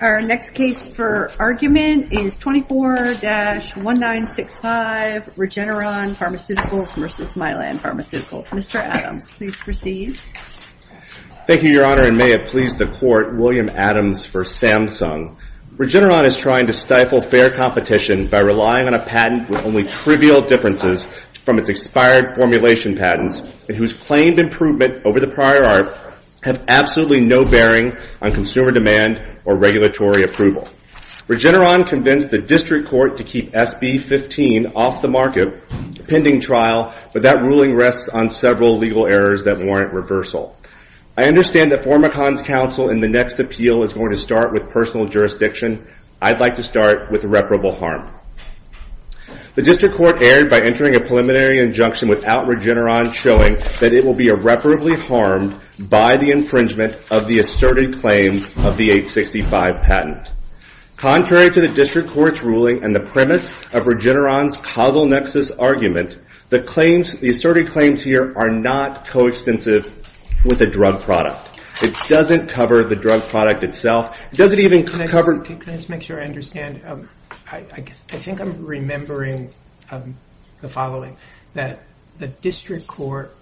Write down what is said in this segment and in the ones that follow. Our next case for argument is 24-1965 Regeneron Pharmaceuticals v. Mylan Pharmaceuticals. Mr. Adams, please proceed. Thank you, Your Honor, and may it please the Court, William Adams for Samsung. Regeneron is trying to stifle fair competition by relying on a patent with only trivial differences from its expired formulation patents and whose claimed improvement over the prior art have absolutely no bearing on consumer demand or regulatory approval. Regeneron convinced the District Court to keep SB 15 off the market, pending trial, but that ruling rests on several legal errors that warrant reversal. I understand that PharmaCon's counsel in the next appeal is going to start with personal jurisdiction. I'd like to start with reparable harm. The District Court erred by entering a preliminary injunction without Regeneron showing that it will be irreparably harmed by the infringement of the asserted claims of the 865 patent. Contrary to the District Court's ruling and the premise of Regeneron's causal nexus argument, the asserted claims here are not coextensive with a drug product. It doesn't cover the drug product itself. It doesn't even cover— Can I just make sure I understand? I think I'm remembering the following, that the District Court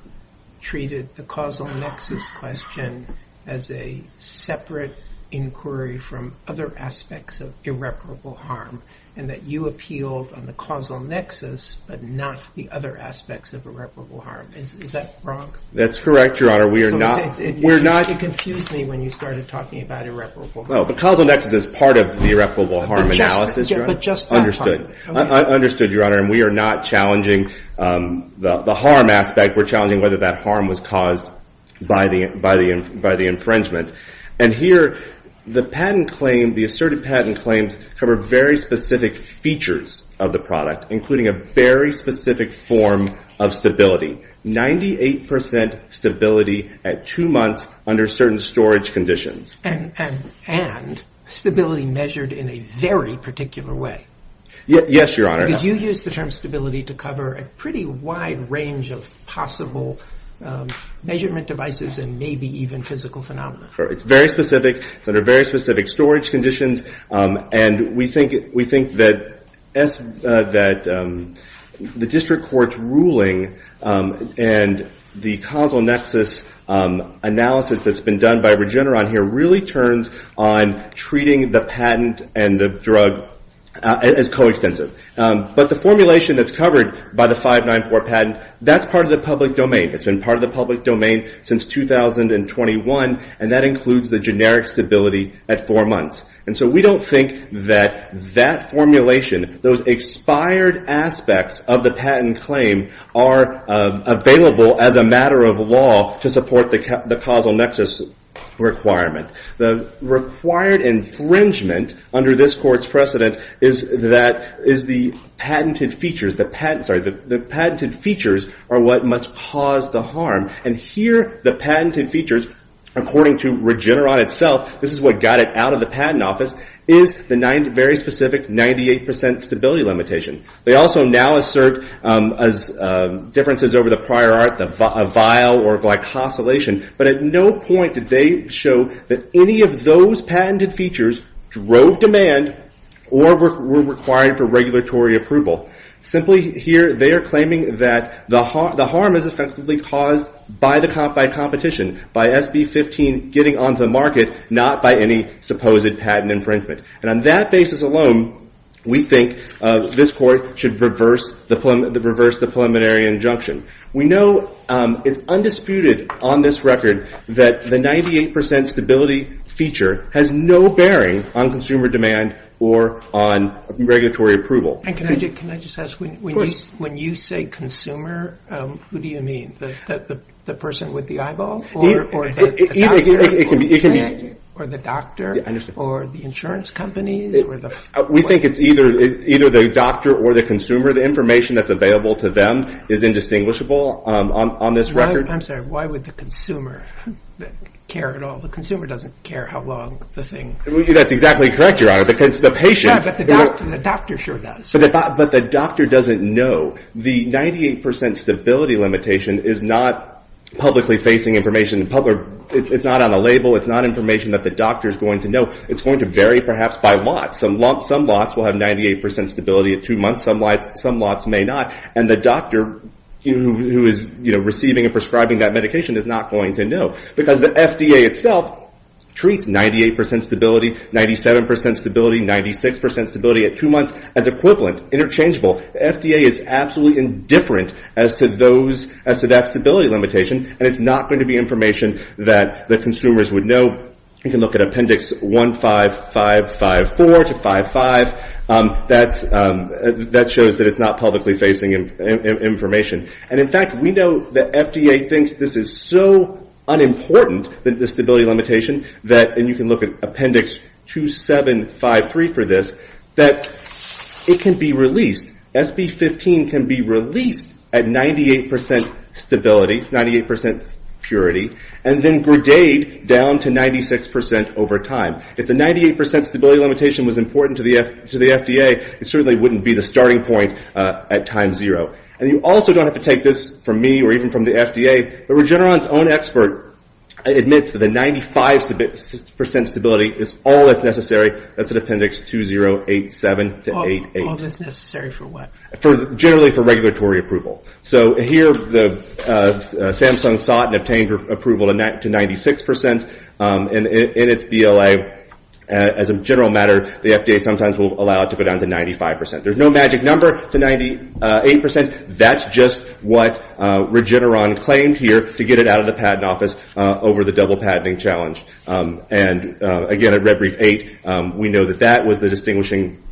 treated the causal nexus question as a separate inquiry from other aspects of irreparable harm and that you appealed on the causal nexus but not the other aspects of irreparable harm. Is that wrong? That's correct, Your Honor. We are not— It confused me when you started talking about irreparable harm. No, but causal nexus is part of the irreparable harm. Understood. Understood, Your Honor. And we are not challenging the harm aspect. We're challenging whether that harm was caused by the infringement. And here, the patent claim, the asserted patent claims, cover very specific features of the product, including a very specific form of stability, 98 percent stability at two months under certain storage conditions. And stability measured in a very particular way. Yes, Your Honor. Because you used the term stability to cover a pretty wide range of possible measurement devices and maybe even physical phenomena. It's very specific. It's under very specific storage conditions. And we think that the District Court's ruling and the causal nexus analysis that's really turns on treating the patent and the drug as coextensive. But the formulation that's covered by the 594 patent, that's part of the public domain. It's been part of the public domain since 2021. And that includes the generic stability at four months. And so we don't think that that formulation, those expired aspects of the patent claim are available as a matter of law to support the causal nexus requirement. The required infringement under this Court's precedent is the patented features. The patented features are what must cause the harm. And here, the patented features, according to Regeneron itself, this is what got it out of the patent office, is the very specific 98 percent stability limitation. They also now assert differences over the prior art, the vial or glycosylation. But at no point did they show that any of those patented features drove demand or were required for regulatory approval. Simply here, they are claiming that the harm is effectively caused by competition, by SB 15 getting onto the market, not by any supposed patent infringement. And on that basis alone, we think this Court should reverse the preliminary injunction. We know it's undisputed on this record that the 98 percent stability feature has no bearing on consumer demand or on regulatory approval. And can I just ask, when you say consumer, who do you mean? The person with the eyeball or the doctor or the insurance companies? We think it's either the doctor or the consumer. The information that's available to them is indistinguishable on this record. I'm sorry, why would the consumer care at all? The consumer doesn't care how long the thing... That's exactly correct, Your Honor, because the patient... Yeah, but the doctor sure does. But the doctor doesn't know. The 98 percent stability limitation is not publicly facing information. It's not on a label. It's not information that the doctor's going to know. It's going to vary, perhaps, by lot. Some lots will have 98 percent stability at two months. Some lots may not. And the doctor who is receiving and prescribing that medication is not going to know because the FDA itself treats 98 percent stability, 97 percent stability, 96 percent stability at two months as equivalent, interchangeable. The FDA is absolutely indifferent as to that stability limitation, and it's not going to be information that the consumers would know. You can look at Appendix 15554 to 55. That shows that it's not publicly facing information. And, in fact, we know that FDA thinks this is so unimportant, this stability limitation, and you can look at Appendix 2753 for this, that it can be released. SB 15 can be released at 98 percent stability, 98 percent purity, and then gradate down to 96 percent over time. If the 98 percent stability limitation was important to the FDA, it certainly wouldn't be the starting point at time zero. And you also don't have to take this from me or even from the FDA, but Regeneron's own expert admits that the 95 percent stability is all that's necessary. That's in Appendix 2087 to 88. All that's necessary for what? Generally for regulatory approval. So here Samsung sought and obtained approval to 96 percent, and in its BLA, as a general matter, the FDA sometimes will allow it to go down to 95 percent. There's no magic number to 98 percent. That's just what Regeneron claimed here to get it out of the patent office over the double patenting challenge. And, again, at Red Brief 8, we know that that was the distinguishing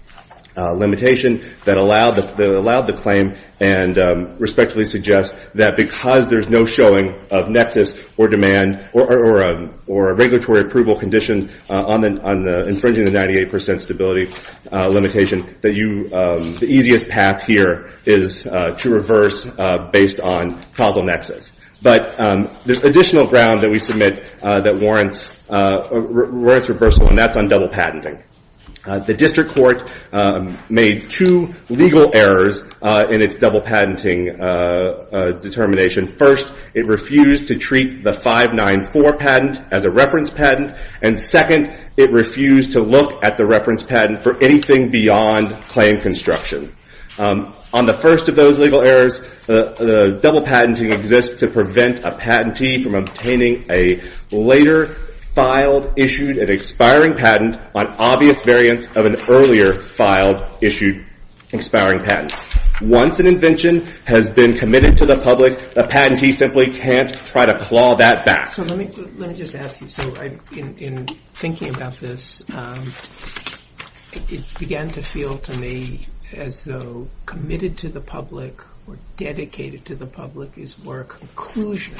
limitation that allowed the claim and respectfully suggests that because there's no showing of nexus or a regulatory approval condition on infringing the 98 percent stability limitation, the easiest path here is to reverse based on causal nexus. But there's additional ground that we submit that warrants reversal, and that's on double patenting. The district court made two legal errors in its double patenting determination. First, it refused to treat the 594 patent as a reference patent, and second, it refused to look at the reference patent for anything beyond claim construction. On the first of those legal errors, the double patenting exists to prevent a patentee from obtaining a later filed, issued, and expiring patent on obvious variants of an earlier filed, issued, expiring patent. Once an invention has been committed to the public, a patentee simply can't try to claw that back. So let me just ask you, so in thinking about this, it began to feel to me as though committed to the public or dedicated to the public is more a conclusion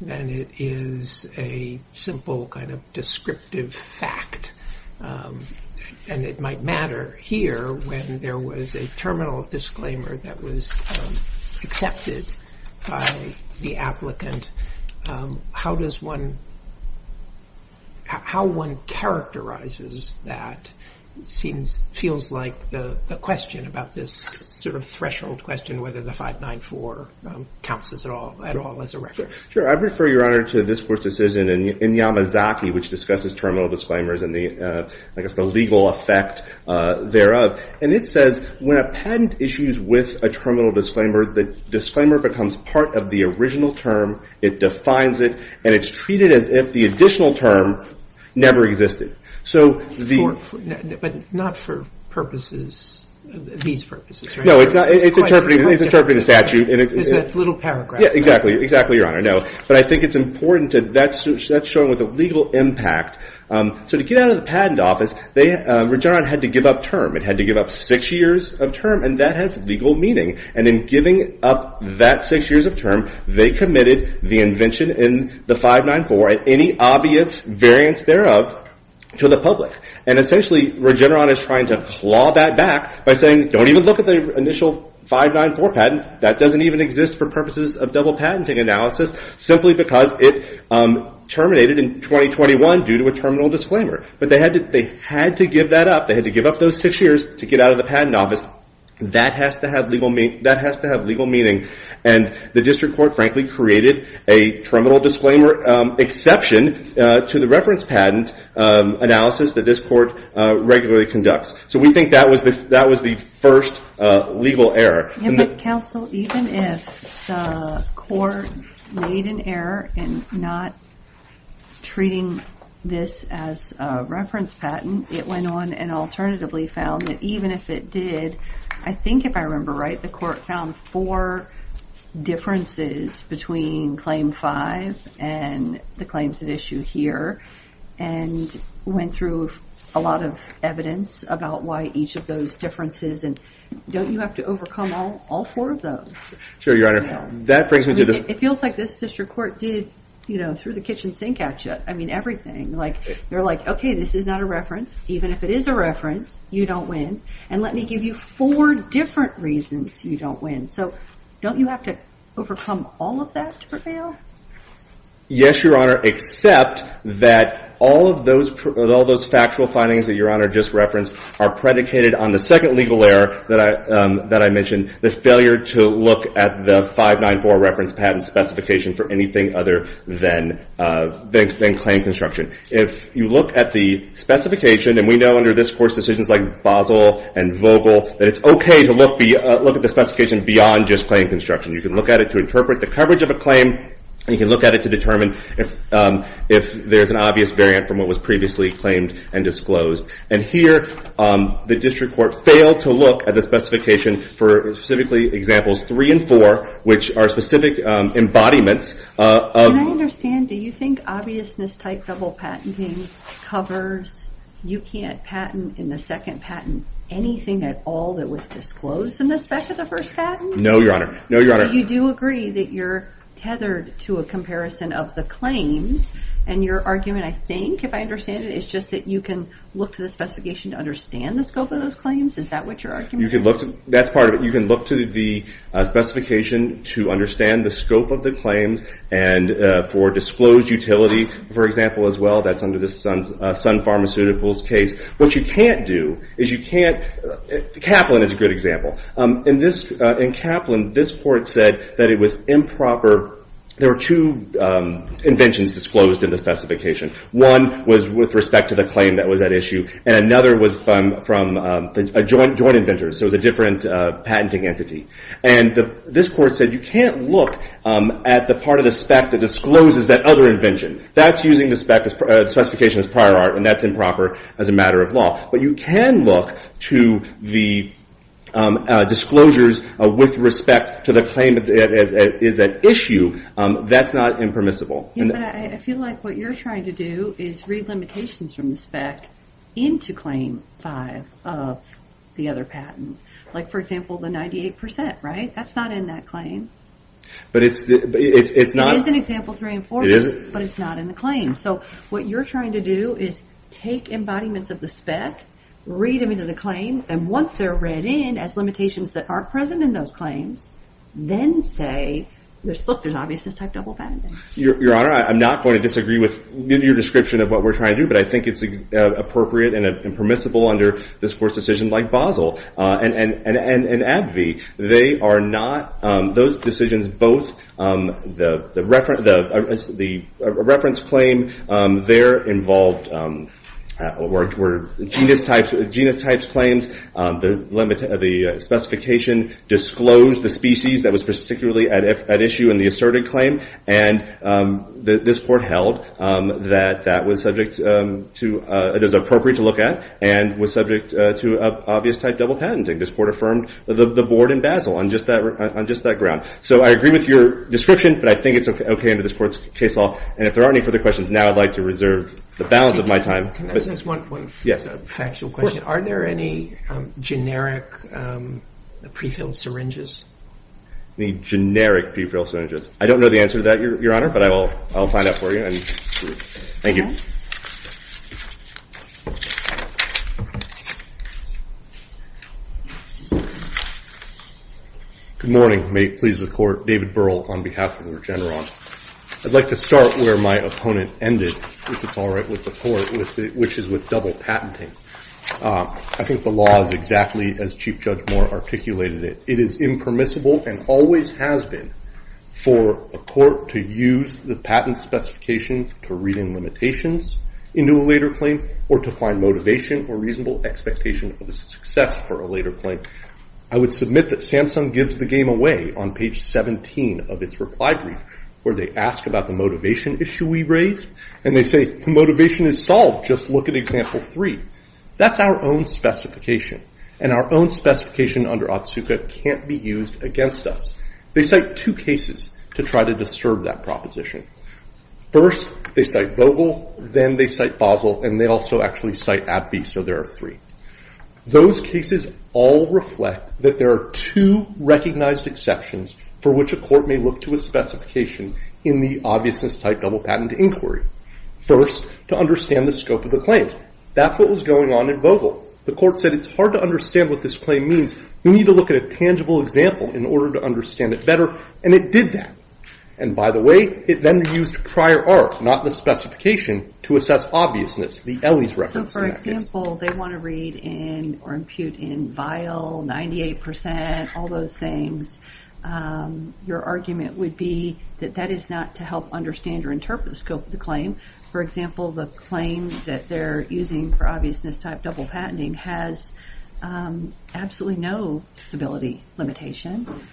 than it is a simple kind of descriptive fact. And it might matter here when there was a terminal disclaimer that was accepted by the applicant. How does one, how one characterizes that seems, feels like the question about this sort of threshold question, whether the 594 counts at all as a reference? Sure. I refer, Your Honor, to this court's decision in Yamazaki, which discusses terminal disclaimers and the, I guess, the legal effect thereof. And it says when a patent issues with a terminal disclaimer, the disclaimer becomes part of the original term. It defines it, and it's treated as if the additional term never existed. But not for purposes, these purposes, right? No, it's interpreting the statute. It's a little paragraph. Exactly, Your Honor, no. But I think it's important to, that's shown with the legal impact. So to get out of the patent office, Regeneron had to give up term. It had to give up six years of term, and that has legal meaning. And in giving up that six years of term, they committed the invention in the 594, any obvious variance thereof, to the public. And essentially, Regeneron is trying to claw that back by saying, don't even look at the initial 594 patent. That doesn't even exist for purposes of double patenting analysis, simply because it terminated in 2021 due to a terminal disclaimer. But they had to give that up. They had to give up those six years to get out of the patent office. That has to have legal meaning. And the district court, frankly, created a terminal disclaimer exception to the reference patent analysis that this court regularly conducts. So we think that was the first legal error. Yeah, but counsel, even if the court made an error in not treating this as a reference patent, it went on and alternatively found that even if it did, I think if I remember right, the court found four differences between Claim 5 and the claims at issue here, and went through a lot of evidence about why each of those differences, and don't you have to overcome all four of those? Sure, Your Honor. It feels like this district court did, you know, threw the kitchen sink at you. I mean, everything. They're like, okay, this is not a reference. Even if it is a reference, you don't win. And let me give you four different reasons you don't win. So don't you have to overcome all of that to prevail? Yes, Your Honor, except that all of those factual findings that Your Honor just referenced are predicated on the second legal error that I mentioned, the failure to look at the 594 reference patent specification for anything other than claim construction. If you look at the specification, and we know under this Court's decisions like Basel and Vogel, that it's okay to look at the specification beyond just claim construction. You can look at it to interpret the coverage of a claim, and you can look at it to determine if there's an obvious variant from what was previously claimed and disclosed. And here, the district court failed to look at the specification for specifically examples 3 and 4, which are specific embodiments. Can I understand, do you think obviousness-type double patenting covers, you can't patent in the second patent anything at all that was disclosed in the spec of the first patent? No, Your Honor. So you do agree that you're tethered to a comparison of the claims, and your argument, I think, if I understand it, is just that you can look to the specification to understand the scope of those claims? Is that what your argument is? That's part of it. You can look to the specification to understand the scope of the claims, and for disclosed utility, for example, as well, that's under the Sun Pharmaceuticals case. What you can't do is you can't, Kaplan is a good example. In Kaplan, this court said that it was improper, there were two inventions disclosed in the specification. One was with respect to the claim that was at issue, and another was from a joint inventor, so it was a different patenting entity. And this court said you can't look at the part of the spec that discloses that other invention. That's using the specification as prior art, and that's improper as a matter of law. But you can look to the disclosures with respect to the claim that is at issue. That's not impermissible. But I feel like what you're trying to do is read limitations from the spec into Claim 5 of the other patent. Like, for example, the 98%, right? That's not in that claim. But it's not... It is, but it's not in the claim. So what you're trying to do is take embodiments of the spec, read them into the claim, and once they're read in as limitations that aren't present in those claims, then say, look, there's obviousness type double patenting. Your Honor, I'm not going to disagree with your description of what we're trying to do, but I think it's appropriate and impermissible under this court's decision, like Basel and Abbey. They are not... Those decisions both... The reference claim there involved... were genus types claims. The specification disclosed the species that was particularly at issue in the asserted claim, and this court held that that was subject to... It was appropriate to look at and was subject to obvious type double patenting. This court affirmed the board in Basel on just that ground. So I agree with your description, but I think it's okay under this court's case law, and if there are any further questions, now I'd like to reserve the balance of my time. Can I just ask one point for the factual question? Are there any generic prefilled syringes? Any generic prefilled syringes? I don't know the answer to that, Your Honor, but I'll find out for you. Thank you. Good morning. May it please the court. David Burrell on behalf of Regeneron. I'd like to start where my opponent ended, if it's all right with the court, which is with double patenting. I think the law is exactly as Chief Judge Moore articulated it. It is impermissible and always has been for a court to use the patent specification to read in limitations into a later claim or to find motivation or reasonable expectation of the success for a later claim. I would submit that Samsung gives the game away on page 17 of its reply brief, where they ask about the motivation issue we raised, and they say, the motivation is solved, just look at example three. That's our own specification, and our own specification under Otsuka can't be used against us. They cite two cases to try to disturb that proposition. First, they cite Vogel, then they cite Basel, and they also actually cite AbbVie, so there are three. Those cases all reflect that there are two recognized exceptions for which a court may look to a specification in the obviousness-type double patent inquiry. First, to understand the scope of the claims. That's what was going on in Vogel. The court said, it's hard to understand what this claim means. We need to look at a tangible example in order to understand it better, and it did that. And by the way, it then used prior art, not the specification, to assess obviousness, the Elly's reference in that case. So for example, they want to read in, or impute in vial, 98%, all those things. Your argument would be that that is not to help understand or interpret the scope of the claim. For example, the claim that they're using for obviousness-type double patenting has absolutely no stability limitation.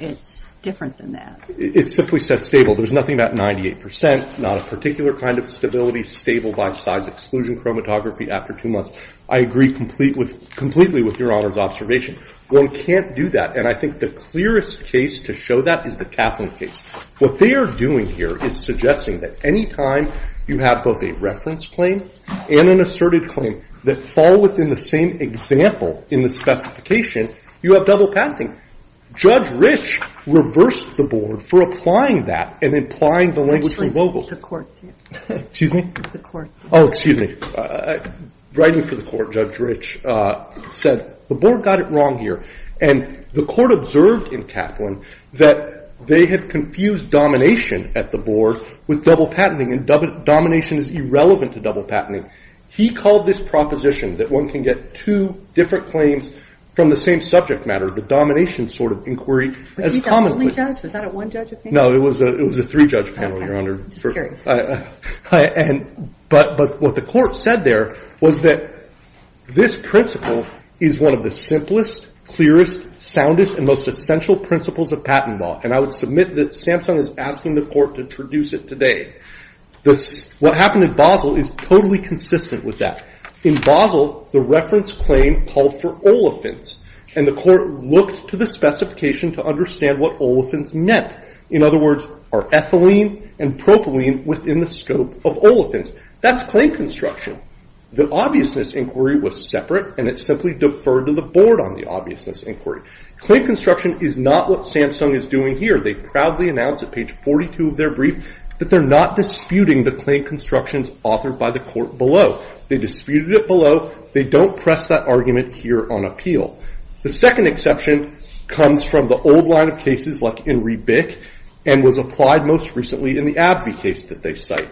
It's different than that. It simply says stable. There's nothing about 98%, not a particular kind of stability, stable by size exclusion chromatography after two months. I agree completely with Your Honor's observation. One can't do that. And I think the clearest case to show that is the Kaplan case. What they are doing here is suggesting that any time you have both a reference claim and an asserted claim that fall within the same example in the specification, you have double patenting. Judge Rich reversed the board for applying that and implying the language from Vogel. Excuse me? Oh, excuse me. Writing for the court, Judge Rich said, the board got it wrong here. And the court observed in Kaplan that they had confused domination at the board with double patenting. And domination is irrelevant to double patenting. He called this proposition that one can get two different claims from the same subject matter, the domination sort of inquiry, as common. Was he the only judge? Was that a one-judge panel? No, it was a three-judge panel, Your Honor. But what the court said there was that this principle is one of the simplest, clearest, soundest, and most essential principles of patent law. And I would submit that Samsung is asking the court to introduce it today. What happened in Basel is totally consistent with that. In Basel, the reference claim called for olefins. And the court looked to the specification to understand what olefins meant. In other words, are ethylene and propylene within the scope of olefins? That's claim construction. The obviousness inquiry was separate, and it simply deferred to the board on the obviousness inquiry. Claim construction is not what Samsung is doing here. They proudly announced at page 42 of their brief that they're not disputing the claim constructions authored by the court below. They disputed it below. They don't press that argument here on appeal. The second exception comes from the old line of cases like In Re Bic and was applied most recently in the AbbVie case that they cite.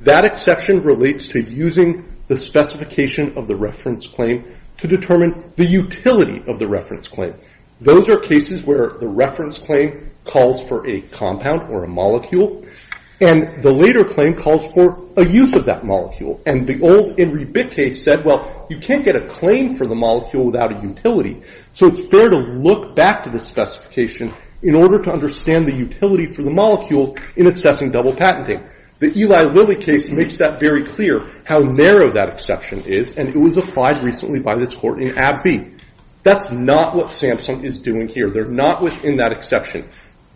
That exception relates to using the specification of the reference claim to determine the utility of the reference claim. Those are cases where the reference claim calls for a compound or a molecule, and the later claim calls for a use of that molecule. And the old In Re Bic case said, well, you can't get a claim for the molecule without a utility, so it's fair to look back to the specification in order to understand the utility for the molecule in assessing double patenting. The Eli Lilly case makes that very clear how narrow that exception is, and it was applied recently by this court in AbbVie. That's not what Samsung is doing here. They're not within that exception.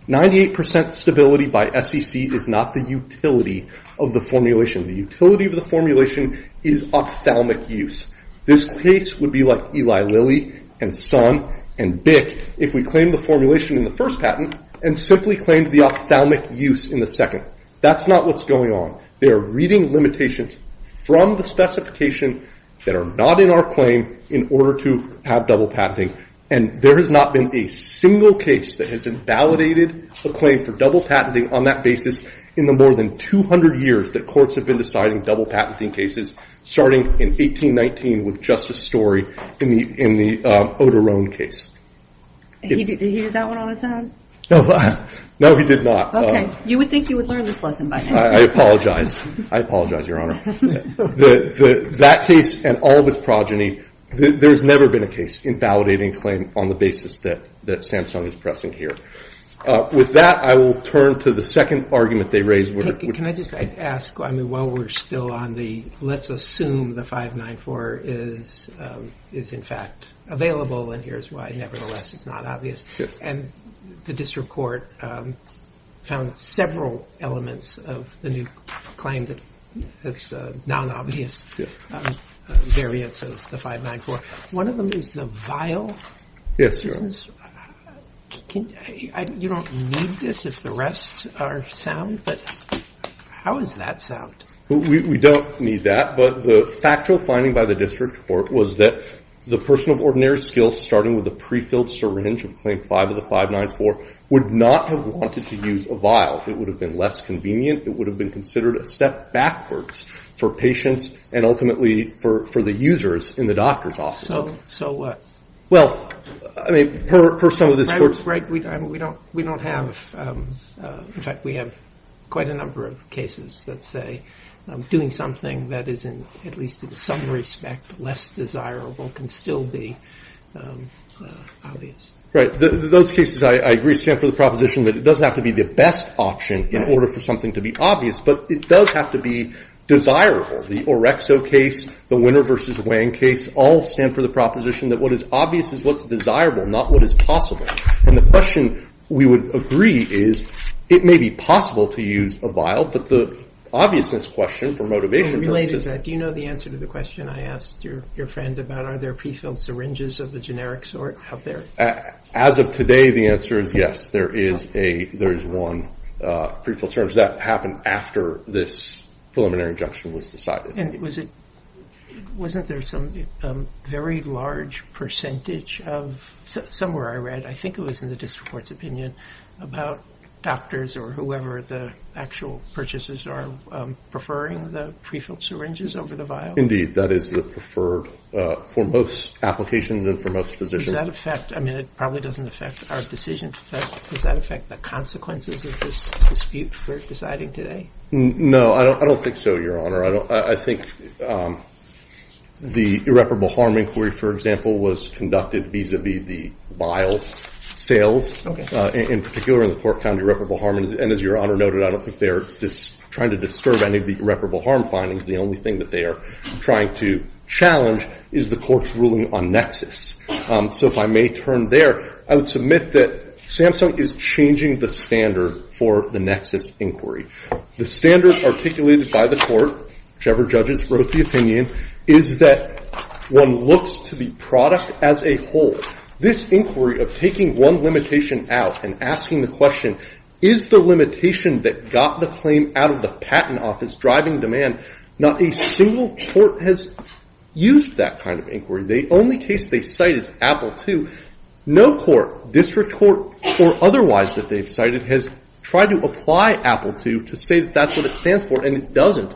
98% stability by SEC is not the utility of the formulation. The utility of the formulation is ophthalmic use. This case would be like Eli Lilly and Sun and Bic if we claimed the formulation in the first patent and simply claimed the ophthalmic use in the second. That's not what's going on. They're reading limitations from the specification that are not in our claim in order to have double patenting, and there has not been a single case that has invalidated a claim for double patenting on that basis in the more than 200 years that courts have been deciding double patenting cases, starting in 1819 with just a story in the Odeurone case. Did he do that one on his own? No, he did not. Okay. You would think you would learn this lesson by now. I apologize. I apologize, Your Honor. That case and all of its progeny, there's never been a case invalidating a claim on the basis that Samsung is pressing here. With that, I will turn to the second argument they raised. Can I just ask, while we're still on the let's assume the 594 is in fact available, and here's why, nevertheless, it's not obvious, and the district court found several elements of the new claim that has non-obvious variants of the 594. One of them is the vial. Yes, Your Honor. You don't need this if the rest are sound, but how is that sound? We don't need that, but the factual finding by the district court was that the person of ordinary skill, starting with the pre-filled syringe of Claim 5 of the 594, would not have wanted to use a vial. It would have been less convenient. It would have been considered a step backwards for patients and ultimately for the users in the doctor's offices. So what? Well, I mean, per some of this court's... Right. We don't have... In fact, we have quite a number of cases that say doing something that is, at least in some respect, less desirable can still be obvious. Right. Those cases, I agree, stand for the proposition that it doesn't have to be the best option in order for something to be obvious, but it does have to be desirable. The Orexo case, the Winner v. Wang case, all stand for the proposition that what is obvious is what's desirable, not what is possible. And the question we would agree is it may be possible to use a vial, but the obviousness question, for motivation purposes... Do you know the answer to the question I asked your friend about? Are there prefilled syringes of a generic sort out there? As of today, the answer is yes. There is one prefilled syringe. That happened after this preliminary injunction was decided. And wasn't there some very large percentage of... Somewhere I read, I think it was in the district court's opinion, about doctors or whoever the actual purchasers are preferring the prefilled syringes over the vial? Indeed, that is the preferred for most applications and for most physicians. Does that affect... I mean, it probably doesn't affect our decision. Does that affect the consequences of this dispute we're deciding today? No, I don't think so, Your Honor. I think the irreparable harm inquiry, for example, was conducted vis-à-vis the vial sales, in particular in the Fort Foundry irreparable harm. And as Your Honor noted, I don't think they're trying to disturb any of the irreparable harm findings. The only thing that they are trying to challenge is the court's ruling on nexus. So if I may turn there, I would submit that Samsung is changing the standard for the nexus inquiry. The standard articulated by the court, whichever judges wrote the opinion, is that one looks to the product as a whole. This inquiry of taking one limitation out and asking the question, is the limitation that got the claim out of the patent office driving demand? Not a single court has used that kind of inquiry. The only case they cite is Apple II. No court, district court or otherwise that they've cited, has tried to apply Apple II to say that that's what it stands for, and it doesn't.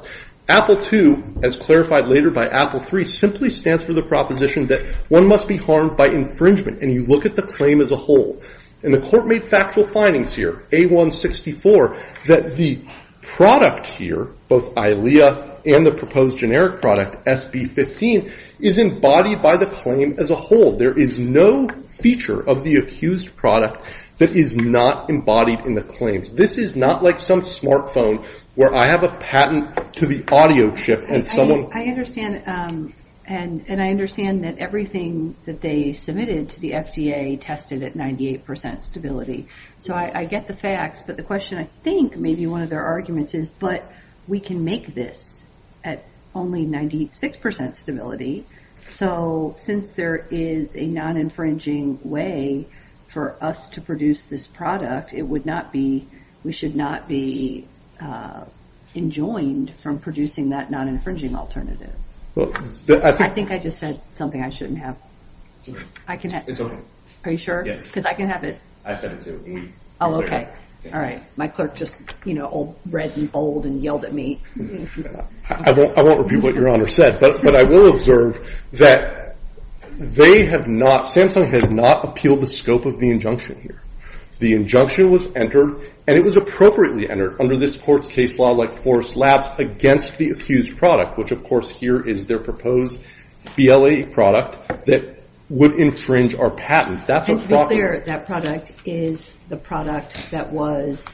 Apple II, as clarified later by Apple III, simply stands for the proposition that one must be harmed by infringement, and you look at the claim as a whole. And the court made factual findings here, A-164, that the product here, both ILEA and the proposed generic product SB-15, is embodied by the claim as a whole. There is no feature of the accused product that is not embodied in the claims. This is not like some smartphone where I have a patent to the audio chip and someone I understand that everything that they submitted to the FDA tested at 98% stability. So I get the facts, but the question, I think, maybe one of their arguments is, but we can make this at only 96% stability. So since there is a non-infringing way for us to produce this product, we should not be enjoined from producing that non-infringing alternative. I think I just said something I shouldn't have. It's okay. Are you sure? Yes. Because I can have it. I said it too. Oh, okay. All right. My clerk just read and bowled and yelled at me. I won't repeat what Your Honor said, but I will observe that Samsung has not appealed the scope of the injunction here. The injunction was entered, and it was appropriately entered, under this court's case law, like Forrest Labs, against the accused product, which, of course, here is their proposed BLE product that would infringe our patent. That product is the product that was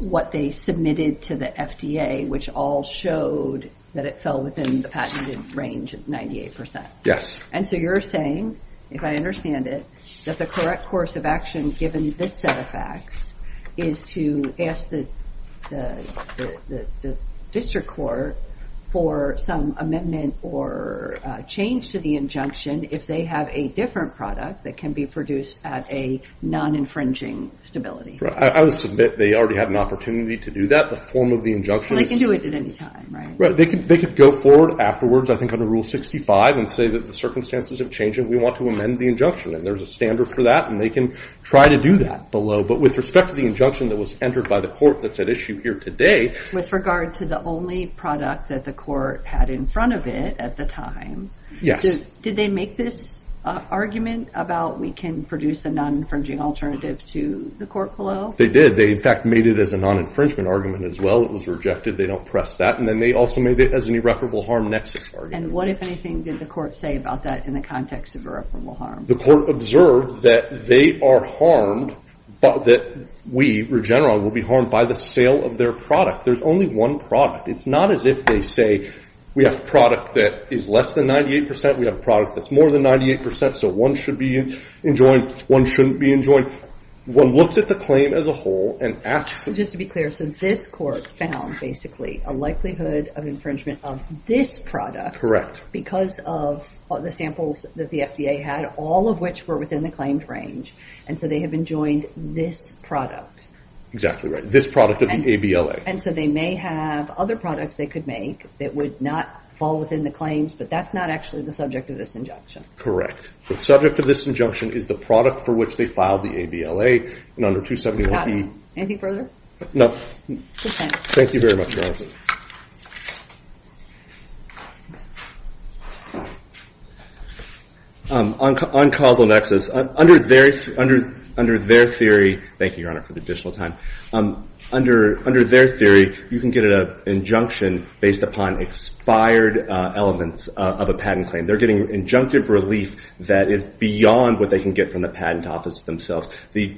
what they submitted to the FDA, which all showed that it fell within the patented range of 98%. Yes. And so you're saying, if I understand it, that the correct course of action, given this set of facts, is to ask the district court for some amendment or change to the injunction if they have a different product that can be produced at a non-infringing stability. I would submit they already had an opportunity to do that. The form of the injunction is- They can do it at any time, right? They could go forward afterwards, I think under Rule 65, and say that the circumstances have changed, and we want to amend the injunction. And there's a standard for that, and they can try to do that below. But with respect to the injunction that was entered by the court that's at issue here today- With regard to the only product that the court had in front of it at the time- Yes. Did they make this argument about, we can produce a non-infringing alternative to the court below? They did. They, in fact, made it as a non-infringement argument as well. It was rejected. They don't press that. And then they also made it as an irreparable harm nexus argument. And what, if anything, did the court say about that in the context of irreparable harm? The court observed that they are harmed, that we, Regeneron, will be harmed by the sale of their product. There's only one product. It's not as if they say, we have a product that is less than 98 percent, we have a product that's more than 98 percent, so one should be enjoined, one shouldn't be enjoined. One looks at the claim as a whole and asks- Just to be clear, so this court found, basically, a likelihood of infringement of this product- Because of the samples that the FDA had, all of which were within the claimed range, and so they have enjoined this product. Exactly right. This product of the ABLA. And so they may have other products they could make that would not fall within the claims, but that's not actually the subject of this injunction. Correct. The subject of this injunction is the product for which they filed the ABLA, and under 271B- Got it. Anything further? No. Thank you very much, Your Honor. On causal nexus, under their theory- Thank you, Your Honor, for the additional time. Under their theory, you can get an injunction based upon expired elements of a patent claim. They're getting injunctive relief that is beyond what they can get from the patent office themselves. The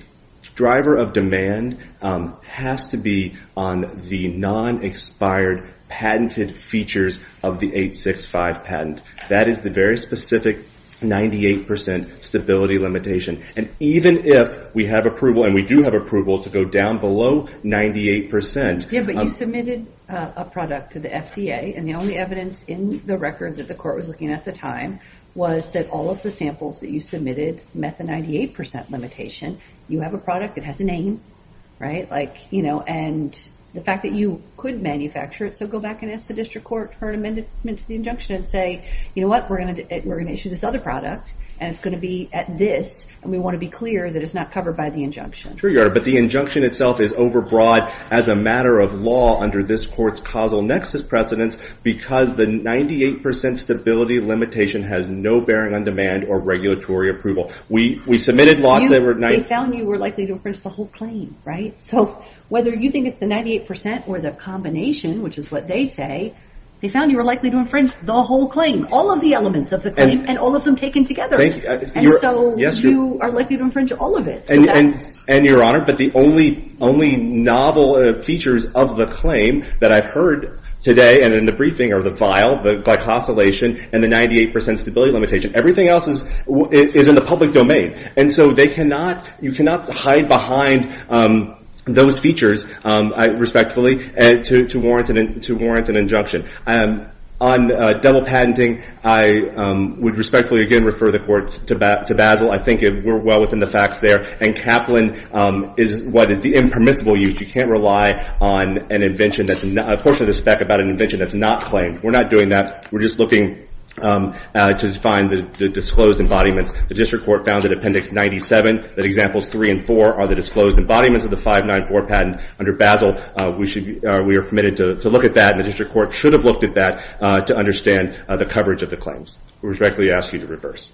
driver of demand has to be on the non-expired patented features of the 865 patent. That is the very specific 98% stability limitation. And even if we have approval, and we do have approval to go down below 98%- Yeah, but you submitted a product to the FDA, and the only evidence in the record that the court was looking at at the time was that all of the samples that you submitted met the 98% limitation. You have a product that has a name, right? And the fact that you could manufacture it, so go back and ask the district court for an amendment to the injunction, and say, you know what? We're going to issue this other product, and it's going to be at this, and we want to be clear that it's not covered by the injunction. True, Your Honor, but the injunction itself is overbroad as a matter of law under this court's causal nexus precedence because the 98% stability limitation has no bearing on demand or regulatory approval. We submitted laws that were- They found you were likely to infringe the whole claim, right? So whether you think it's the 98% or the combination, which is what they say, they found you were likely to infringe the whole claim, all of the elements of the claim, and all of them taken together. And so you are likely to infringe all of it. And, Your Honor, but the only novel features of the claim that I've heard today and in the briefing are the vial, the glycosylation, and the 98% stability limitation. Everything else is in the public domain. And so you cannot hide behind those features, respectfully, to warrant an injunction. On double patenting, I would respectfully, again, refer the court to Basil. I think we're well within the facts there. And Kaplan is what is the impermissible use. You can't rely on a portion of the spec about an invention that's not claimed. We're not doing that. We're just looking to find the disclosed embodiments. The District Court found in Appendix 97 that Examples 3 and 4 are the disclosed embodiments of the 594 patent. Under Basil, we are permitted to look at that, and the District Court should have looked at that to understand the coverage of the claims. I respectfully ask you to reverse.